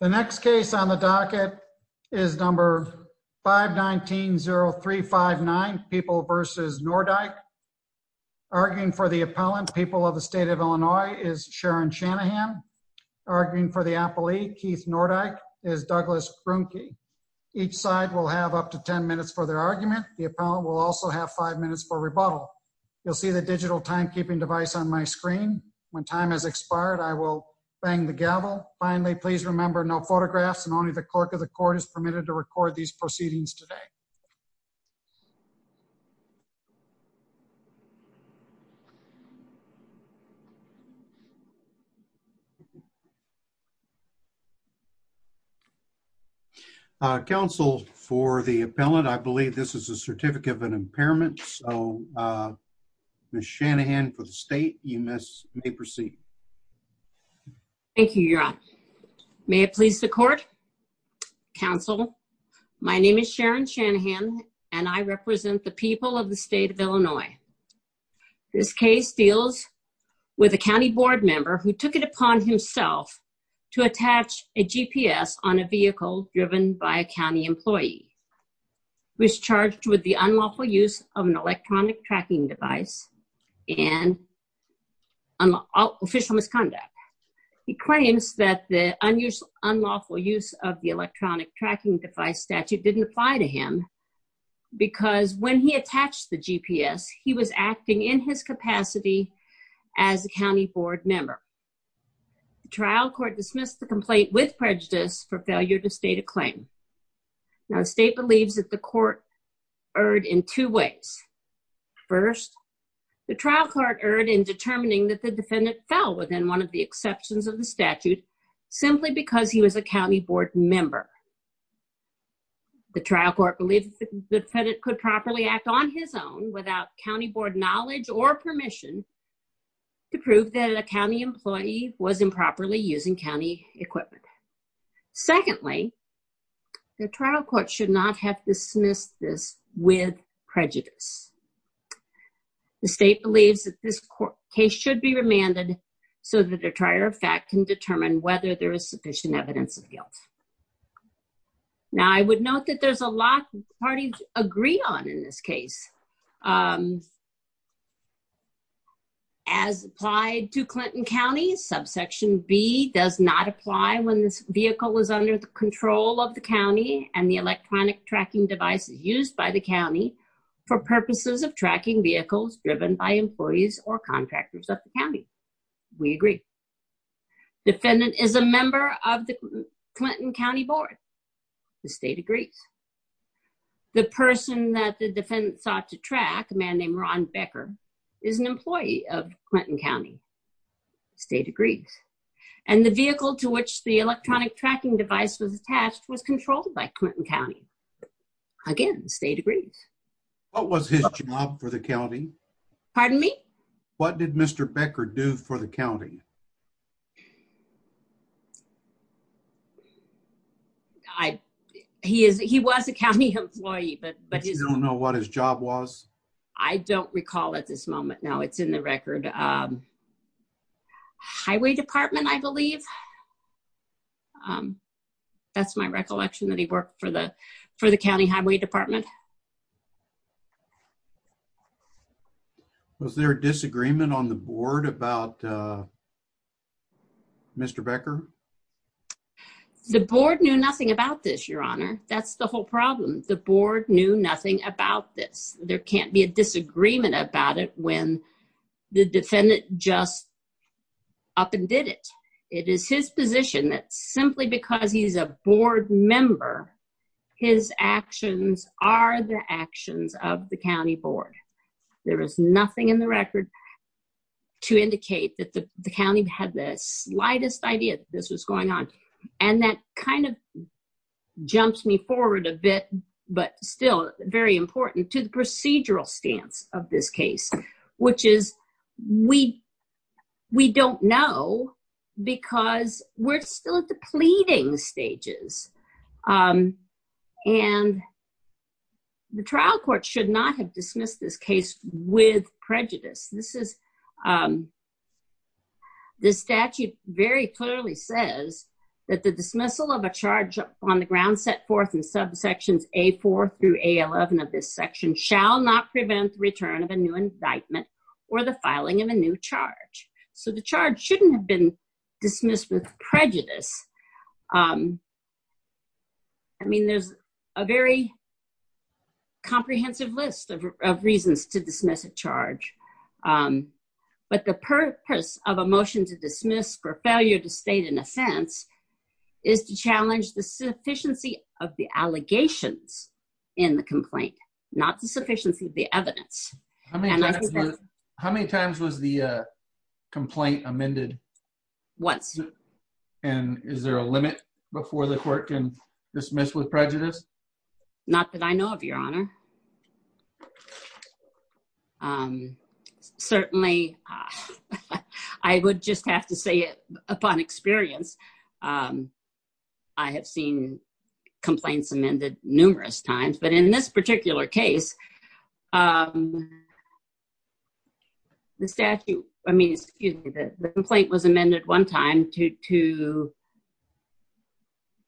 The next case on the docket is number 519-0359, People v. Nordike. Arguing for the appellant, People of the State of Illinois, is Sharon Shanahan. Arguing for the appellee, Keith Nordike, is Douglas Brunke. Each side will have up to 10 minutes for their argument. The appellant will also have 5 minutes for rebuttal. You'll see the digital timekeeping device on my screen. When time has expired, I will bang the gavel. Finally, please remember, no photographs and only the clerk of the court is permitted to record these proceedings today. Counsel, for the appellant, I believe this is a certificate of an impairment. So, Ms. Shanahan, for the state, you may proceed. Thank you, Your Honor. May it please the court. Counsel, my name is Sharon Shanahan, and I represent the People of the State of Illinois. This case deals with a county board member who took it upon himself to attach a GPS on a vehicle driven by a county employee. He was charged with the unlawful use of an electronic tracking device and official misconduct. He claims that the unlawful use of the electronic tracking device statute didn't apply to him because when he attached the GPS, he was acting in his capacity as a county board member. The trial court dismissed the complaint with prejudice for failure to state a claim. Now, the state believes that the court erred in two ways. First, the trial court erred in determining that the defendant fell within one of the exceptions of the statute simply because he was a county board member. The trial court believes that the defendant could properly act on his own without county board knowledge or permission to prove that a county employee was improperly using county equipment. Secondly, the trial court should not have dismissed this with prejudice. The state believes that this case should be remanded so that a trial fact can determine whether there is sufficient evidence of guilt. Now, I would note that there's a lot that parties agree on in this case. As applied to Clinton County, subsection B does not apply when this vehicle is under the control of the county and the electronic tracking device is used by the county for purposes of tracking vehicles driven by employees or contractors of the county. We agree. Defendant is a member of the Clinton County Board. The state agrees. The person that the defendant sought to track, a man named Ron Becker, is an employee of Clinton County. The state agrees. And the vehicle to which the electronic tracking device was attached was controlled by Clinton County. Again, the state agrees. What was his job for the county? Pardon me? What did Mr. Becker do for the county? I, he is, he was a county employee, but, but you don't know what his job was. I don't recall at this moment. No, it's in the record. Highway Department, I believe. That's my recollection that he worked for the, for the county highway department. Was there a disagreement on the board about Mr. Becker? The board knew nothing about this, Your Honor. That's the whole problem. The board knew nothing about this. There can't be a disagreement about it when the defendant just up and did it. It is his position that simply because he's a board member, his actions are the actions of the county board. There is nothing in the record to indicate that the county had the slightest idea that this was going on. And that kind of jumps me forward a bit, but still very important to the procedural stance of this case, which is we, we don't know because we're still at the pleading stages. And the trial court should not have dismissed this case with prejudice. This is, the statute very clearly says that the dismissal of a charge on the ground set forth in subsections A4 through A11 of this section shall not prevent the return of a new indictment or the filing of a new charge. So the charge shouldn't have been dismissed with prejudice. I mean, there's a very comprehensive list of reasons to dismiss a charge. But the purpose of a motion to dismiss for failure to state an offense is to challenge the sufficiency of the allegations in the complaint, not the sufficiency of the evidence. How many times was the complaint amended? Once. And is there a limit before the court can dismiss with prejudice? Not that I know of, Your Honor. Certainly, I would just have to say it upon experience. I have seen complaints amended numerous times. But in this particular case, the statute, I mean, excuse me, the complaint was amended one time to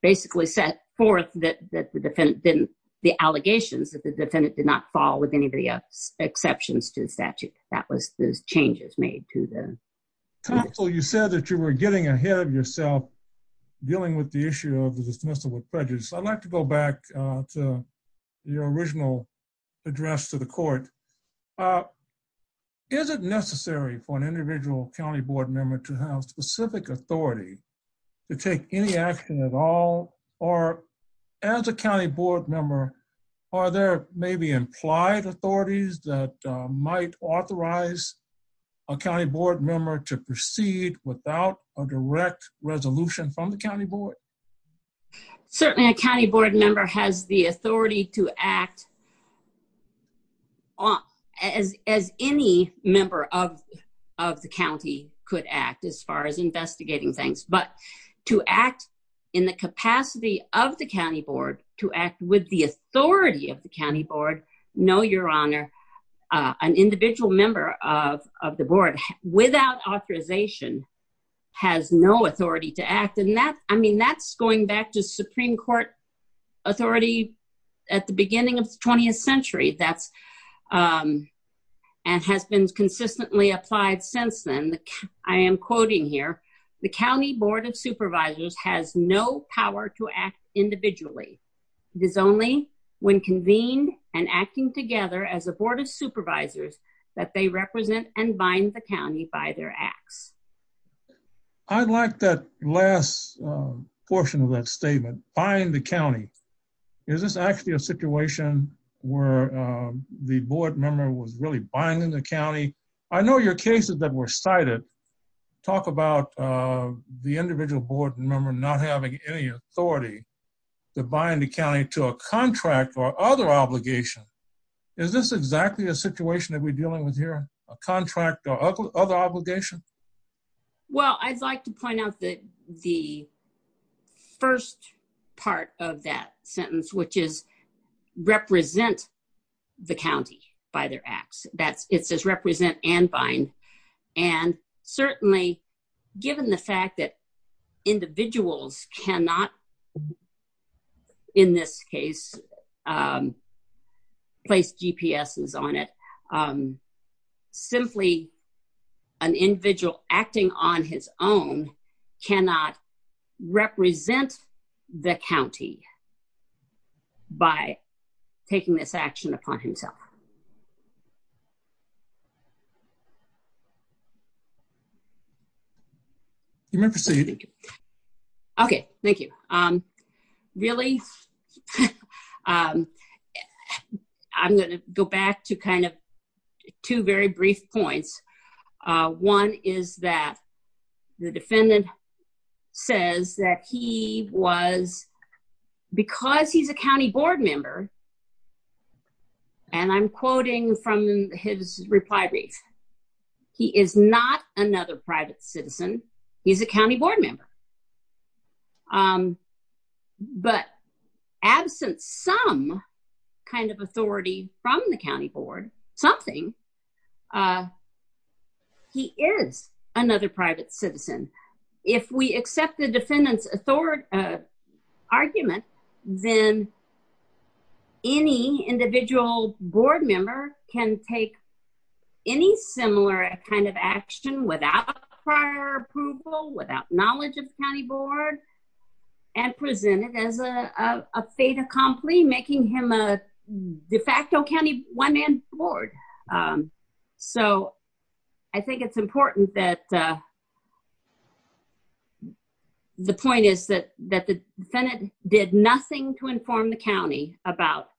basically set forth that the defendant didn't, the allegations that the defendant did not fall with any of the exceptions to the statute. That was the changes made to them. Counsel, you said that you were getting ahead of yourself dealing with the issue of the dismissal with prejudice. I'd like to go back to your original address to the court. Is it necessary for an individual county board member to have specific authority to take any action at all? Or as a county board member, are there maybe implied authorities that might authorize a county board member to proceed without a direct resolution from the county board? Certainly, a county board member has the authority to act as any member of the county could act as far as investigating things. But to act in the capacity of the county board, to act with the authority of the county board, no, Your Honor, an individual member of the board without authorization has no authority to act. And that, I mean, that's going back to Supreme Court authority at the beginning of the 20th century. That's and has been consistently applied since then. I am quoting here, the county board of supervisors has no power to act individually. It is only when convened and acting together as a board of supervisors that they represent and bind the county by their acts. I'd like that last portion of that statement, bind the county. Is this actually a situation where the board member was really binding the county? I know your cases that were cited talk about the individual board member not having any authority to bind the county to a contract or other obligation. Is this exactly a situation that we're dealing with here, a contract or other obligation? Well, I'd like to point out that the first part of that sentence, which is represent the county by their acts, that it says represent and bind. And certainly, given the fact that individuals cannot, in this case, place GPSs on it, simply an individual acting on his own cannot represent the county by taking this action upon himself. You may proceed. Okay, thank you. Really, I'm going to go back to kind of two very brief points. One is that the defendant says that he was, because he's a county board member, and I'm quoting from his reply brief, he is not another private citizen. He's a county board member. But absent some kind of authority from the county board, something, he is another private citizen. If we accept the defendant's argument, then any individual board member can take any similar kind of action without prior approval, without knowledge of the county board, and present it as a fait accompli, making him a de facto county one-man board. So, I think it's important that, the point is that the defendant did nothing to inform the county about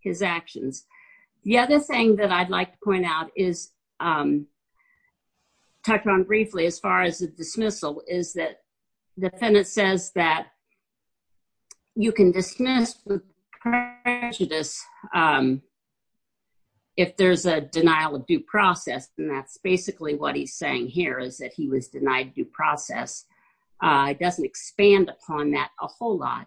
his actions. The other thing that I'd like to point out is, touched on briefly as far as the dismissal, is that the defendant says that you can dismiss prejudice if there's a denial of due process, and that's basically what he's saying here is that he was denied due process. It doesn't expand upon that a whole lot.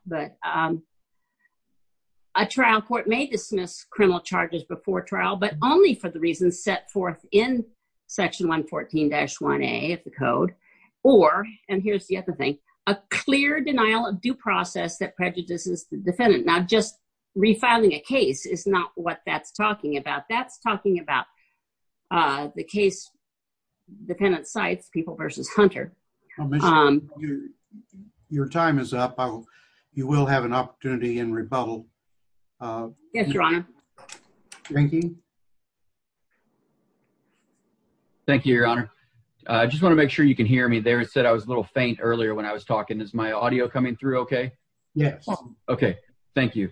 A trial court may dismiss criminal charges before trial, but only for the reasons set forth in section 114-1A of the code, or, and here's the other thing, a clear denial of due process that prejudices the defendant. Now, just refiling a case is not what that's talking about. That's talking about the case, defendant cites people versus Hunter. Your time is up. You will have an opportunity in rebuttal. Yes, your honor. Thank you, your honor. I just want to make sure you can hear me there. It said I was a little faint earlier when I was talking. Is my audio coming through okay? Yes. Okay, thank you.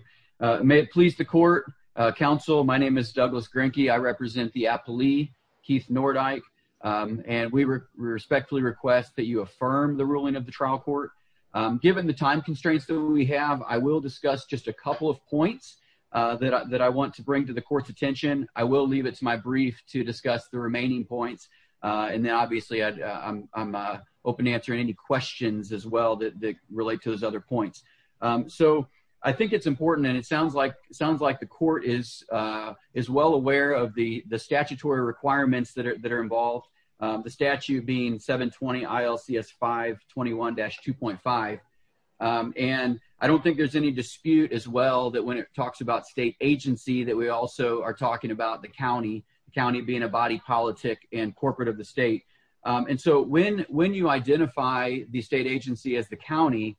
May it please the court, counsel, my name is Douglas Grinke. I represent the appellee, Keith Nordyke, and we respectfully request that you affirm the ruling of the trial court. Given the time constraints that we have, I will discuss just a couple of points that I want to bring to the court's attention. I will leave it to my brief to discuss the remaining points, and then obviously I'm open to answering any questions as well that relate to those other points. I think it's important, and it sounds like the court is well aware of the statutory requirements that are involved, the statute being 720 ILCS 521-2.5. I don't think there's any dispute as well that when it talks about state agency that we also are talking about the county, county being a body politic and corporate of the state. And so when you identify the state agency as the county,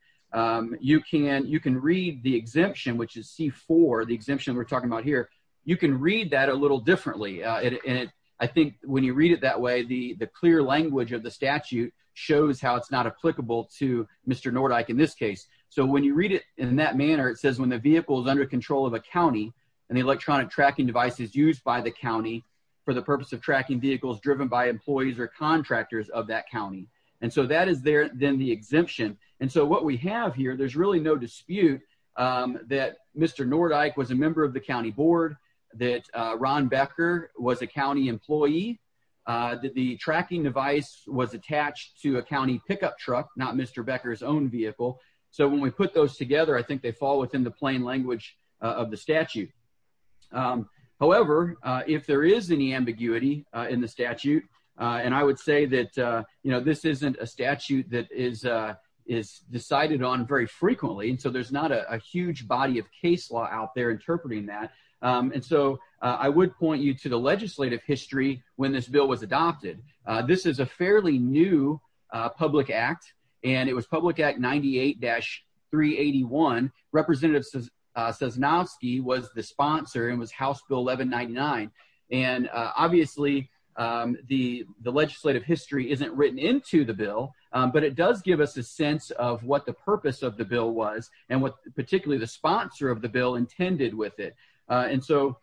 you can read the exemption, which is C-4, the exemption we're talking about here, you can read that a little differently. I think when you read it that way, the clear language of the statute shows how it's not applicable to Mr. Nordyke in this case. So when you read it in that manner, it says when the vehicle is under control of a county and the electronic tracking device is used by the county for the purpose of tracking vehicles driven by employees or contractors of that county. And so that is then the exemption. And so what we have here, there's really no dispute that Mr. Nordyke was a member of the county board, that Ron Becker was a county employee, that the tracking device was attached to a county pickup truck, not Mr. Becker's own vehicle. So when we put those together, I think they fall within the plain language of the statute. However, if there is any ambiguity in the statute, and I would say that this isn't a statute that is decided on very frequently, and so there's not a huge body of case law out there interpreting that. And so I would point you to the legislative history when this bill was adopted. This is a fairly new public act, and it was Public Act 98-381. Representative Sosnovsky was the sponsor and was House Bill 1199. And obviously, the legislative history isn't written into the bill, but it does give us a sense of what the purpose of the bill was and what particularly the sponsor of the bill intended with it. And so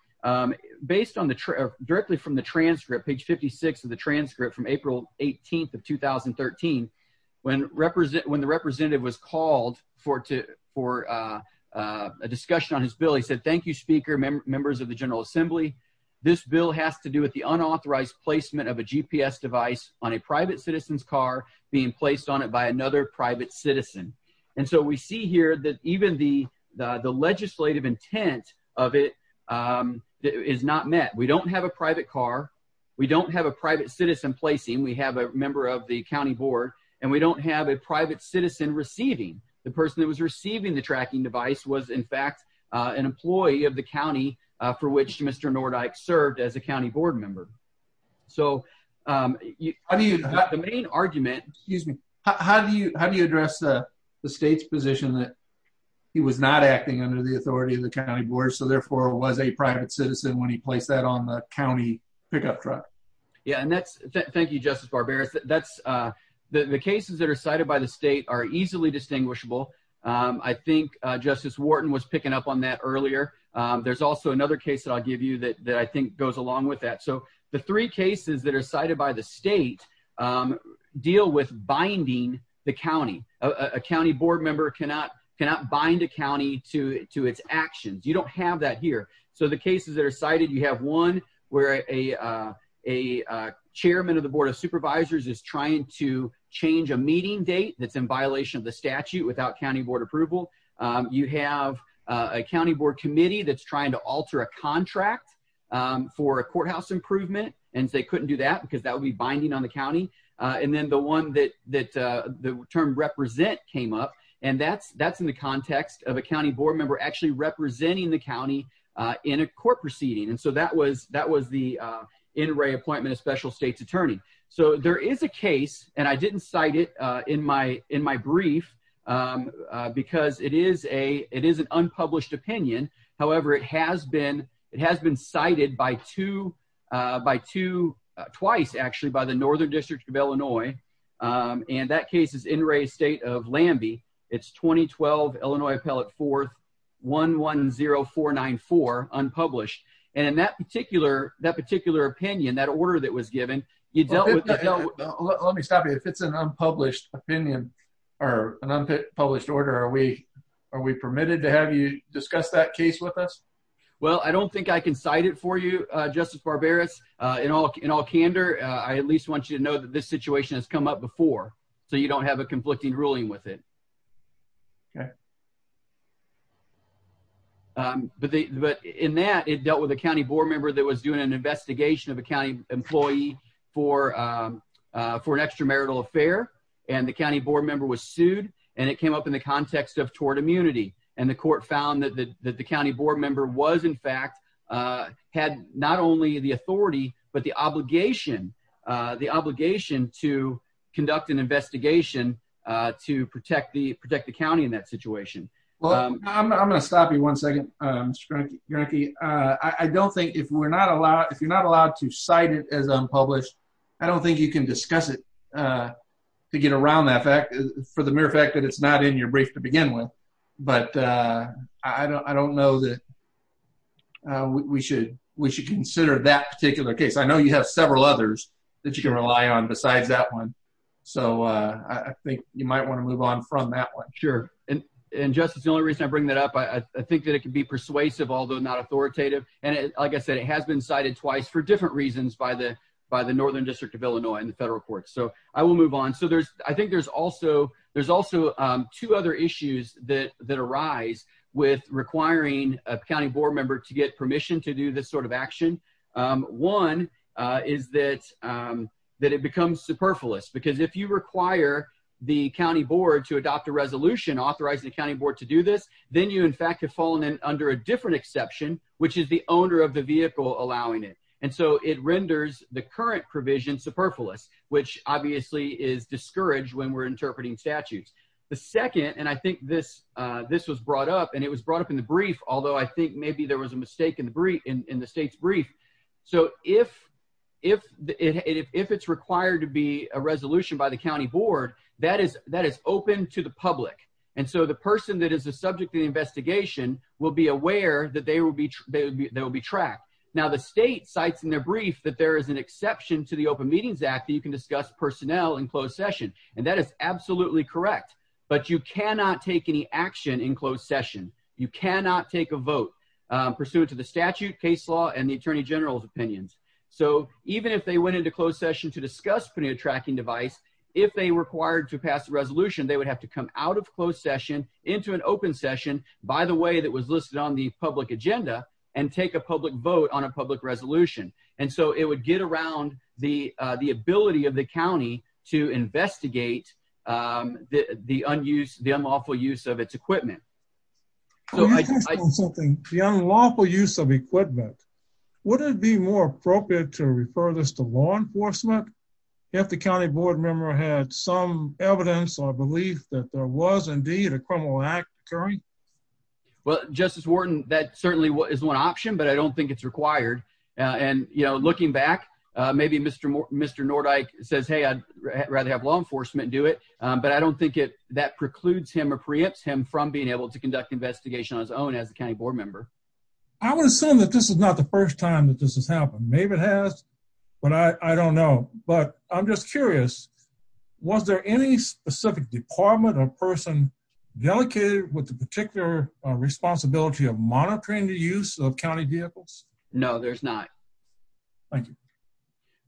based on the, directly from the transcript, page 56 of the transcript from April 18th of 2013, when the representative was called for a discussion on his bill, he said, Thank you, Speaker, members of the General Assembly. This bill has to do with the unauthorized placement of a GPS device on a private citizen's car being placed on it by another private citizen. And so we see here that even the legislative intent of it is not met. We don't have a private car. We don't have a private citizen placing. We have a member of the county board, and we don't have a private citizen receiving. The person that was receiving the tracking device was, in fact, an employee of the county for which Mr. Nordyke served as a county board member. So the main argument, excuse me, how do you address the state's position that he was not acting under the authority of the county board, so therefore was a private citizen when he placed that on the county pickup truck? Yeah, and that's, thank you, Justice Barbera. The cases that are cited by the state are easily distinguishable. I think Justice Wharton was picking up on that earlier. There's also another case that I'll give you that I think goes along with that. So the three cases that are cited by the state deal with binding the county. A county board member cannot bind a county to its actions. You don't have that here. So the cases that are cited, you have one where a chairman of the board of supervisors is trying to change a meeting date that's in violation of the statute without county board approval. You have a county board committee that's trying to alter a contract for a courthouse improvement, and they couldn't do that because that would be binding on the county. And then the one that the term represent came up, and that's in the context of a county board member actually representing the county in a court proceeding. And so that was the in-ray appointment of special state's attorney. So there is a case, and I didn't cite it in my brief because it is an unpublished opinion. However, it has been cited by two, twice actually, by the Northern District of Illinois, and that case is in-ray state of Lambie. It's 2012, Illinois Appellate 4th, 110494, unpublished. And in that particular opinion, that order that was given, you dealt with- Let me stop you. If it's an unpublished opinion or an unpublished order, are we permitted to have you discuss that case with us? Well, I don't think I can cite it for you, Justice Barberis. In all candor, I at least want you to know that this situation has come up before, so you don't have a conflicting ruling with it. But in that, it dealt with a county board member that was doing an investigation of a county employee for an extramarital affair, and the county board member was sued, and it came up in the context of tort immunity. And the court found that the county board member was, in fact, had not only the authority, but the obligation to conduct an investigation to protect the county in that situation. Well, I'm going to stop you one second, Mr. Granke. I don't think, if you're not allowed to cite it as unpublished, I don't think you can discuss it to get around that fact, for the mere fact that it's not in your brief to begin with. But I don't know that we should consider that particular case. I know you have several others that you can rely on besides that one, so I think you might want to move on from that one. Sure. And, Justice, the only reason I bring that up, I think that it can be persuasive, although not authoritative. And like I said, it has been cited twice for different reasons by the Northern District of Illinois and the federal courts. So I will move on. So I think there's also two other issues that arise with requiring a county board member to get permission to do this sort of action. One is that it becomes superfluous, because if you require the county board to adopt a resolution authorizing the county board to do this, then you, in fact, have fallen under a different exception, which is the owner of the vehicle allowing it. And so it renders the current provision superfluous, which obviously is discouraged when we're interpreting statutes. The second, and I think this was brought up, and it was brought up in the brief, although I think maybe there was a mistake in the state's brief. So if it's required to be a resolution by the county board, that is open to the public. And so the person that is the subject of the investigation will be aware that they will be tracked. Now, the state cites in their brief that there is an exception to the Open Meetings Act that you can discuss personnel in closed session. And that is absolutely correct. But you cannot take any action in closed session. You cannot take a vote pursuant to the statute, case law, and the Attorney General's opinions. So even if they went into closed session to discuss putting a tracking device, if they required to pass a resolution, they would have to come out of closed session into an open session, by the way, that was listed on the public agenda, and take a public vote on a public resolution. And so it would get around the ability of the county to investigate the unlawful use of its equipment. The unlawful use of equipment, would it be more appropriate to refer this to law enforcement if the county board member had some evidence or belief that there was indeed a criminal act occurring? Well, Justice Wharton, that certainly is one option, but I don't think it's required. And, you know, looking back, maybe Mr. Nordyke says, hey, I'd rather have law enforcement do it. But I don't think that precludes him or preempts him from being able to conduct investigation on his own as a county board member. I would assume that this is not the first time that this has happened. Maybe it has, but I don't know. But I'm just curious, was there any specific department or person delegated with the particular responsibility of monitoring the use of county vehicles? No, there's not. Thank you.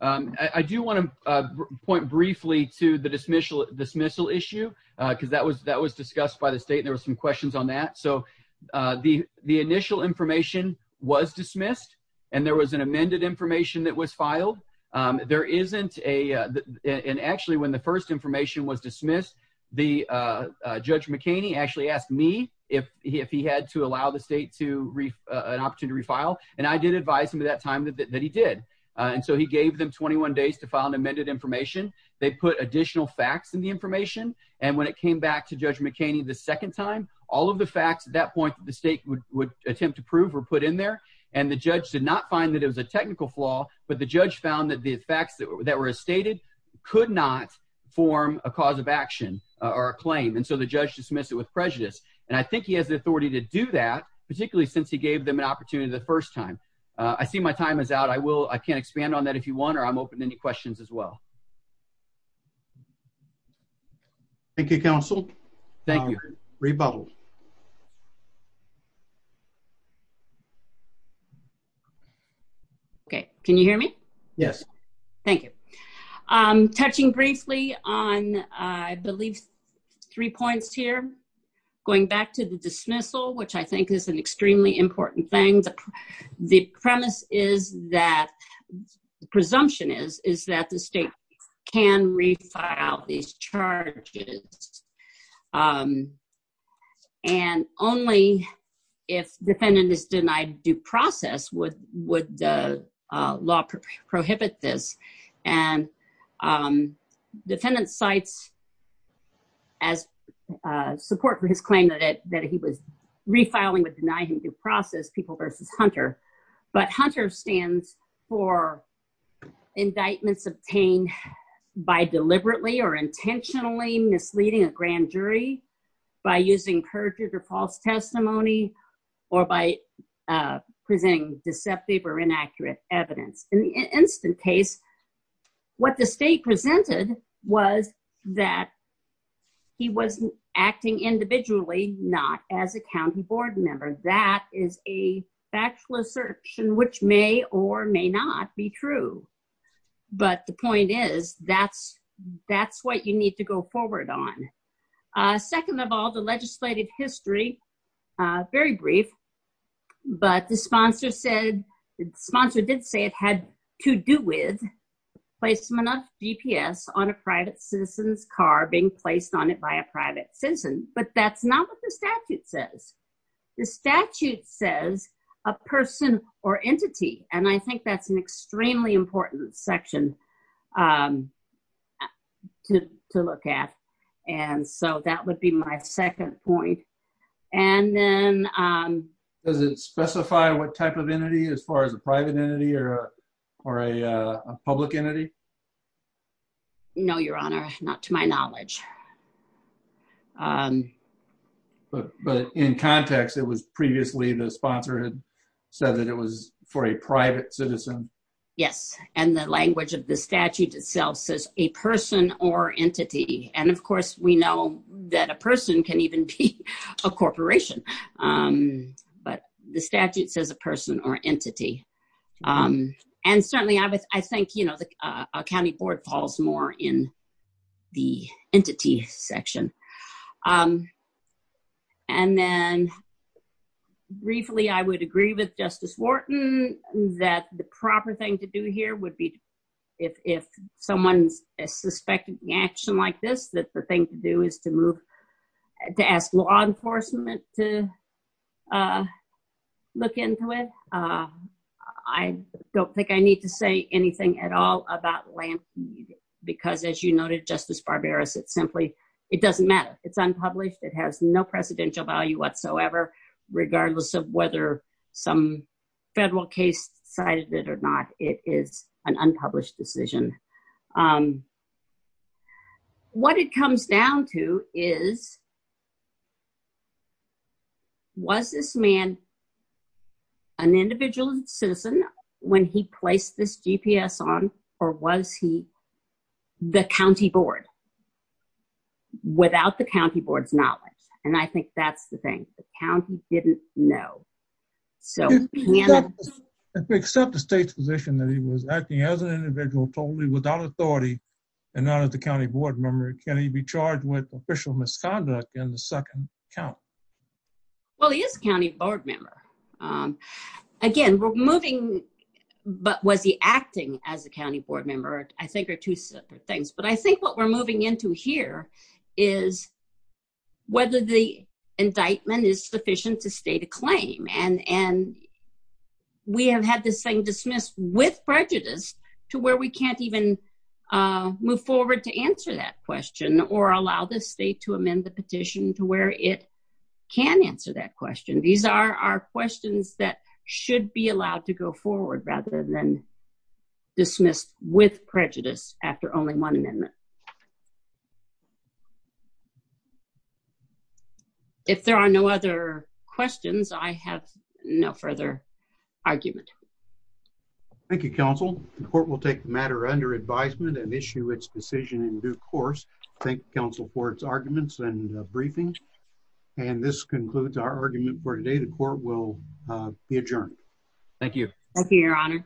I do want to point briefly to the dismissal issue, because that was discussed by the state. There were some questions on that. So the initial information was dismissed, and there was an amended information that was filed. There isn't a – and actually, when the first information was dismissed, the – Judge McKinney actually asked me if he had to allow the state to – an opportunity to refile, and I did advise him at that time that he did. And so he gave them 21 days to file an amended information. They put additional facts in the information, and when it came back to Judge McKinney the second time, all of the facts at that point that the state would attempt to prove were put in there. And the judge did not find that it was a technical flaw, but the judge found that the facts that were stated could not form a cause of action or a claim, and so the judge dismissed it with prejudice. And I think he has the authority to do that, particularly since he gave them an opportunity the first time. I see my time is out. I will – I can expand on that if you want, or I'm open to any questions as well. Thank you, counsel. Thank you. Rebuttal. Okay. Can you hear me? Yes. Thank you. Touching briefly on, I believe, three points here, going back to the dismissal, which I think is an extremely important thing. The premise is that – the presumption is that the state can refile these charges, and only if defendant is denied due process would the law prohibit this. And defendant cites as support for his claim that he was refiling would deny him due process, people versus Hunter. But Hunter stands for indictments obtained by deliberately or intentionally misleading a grand jury by using perjured or false testimony or by presenting deceptive or inaccurate evidence. In the instant case, what the state presented was that he was acting individually, not as a county board member. That is a factual assertion, which may or may not be true. But the point is, that's what you need to go forward on. Second of all, the legislated history, very brief, but the sponsor did say it had to do with placement of GPS on a private citizen's car being placed on it by a private citizen. But that's not what the statute says. The statute says a person or entity, and I think that's an extremely important section to look at. And so that would be my second point. Does it specify what type of entity as far as a private entity or a public entity? No, Your Honor, not to my knowledge. But in context, it was previously the sponsor had said that it was for a private citizen. Yes. And the language of the statute itself says a person or entity. And of course, we know that a person can even be a corporation. But the statute says a person or entity. And certainly, I think, you know, the county board falls more in the entity section. And then briefly, I would agree with Justice Wharton that the proper thing to do here would be if someone's a suspect in action like this, that the thing to do is to move to ask law enforcement to look into it. I don't think I need to say anything at all about land because, as you noted, Justice Barbaros, it's simply it doesn't matter. It's unpublished. It has no presidential value whatsoever, regardless of whether some federal case cited it or not. It is an unpublished decision. What it comes down to is, was this man an individual citizen when he placed this GPS on or was he the county board without the county board's knowledge? And I think that's the thing. The county didn't know. If we accept the state's position that he was acting as an individual totally without authority and not as a county board member, can he be charged with official misconduct in the second count? Well, he is a county board member. Again, was he acting as a county board member, I think, are two separate things. But I think what we're moving into here is whether the indictment is sufficient to state a claim. And we have had this thing dismissed with prejudice to where we can't even move forward to answer that question or allow the state to amend the petition to where it can answer that question. These are questions that should be allowed to go forward rather than dismissed with prejudice after only one amendment. If there are no other questions, I have no further argument. Thank you, counsel. The court will take the matter under advisement and issue its decision in due course. Thank you, counsel, for its arguments and briefing. And this concludes our argument for today. The court will be adjourned. Thank you. Thank you, your honor.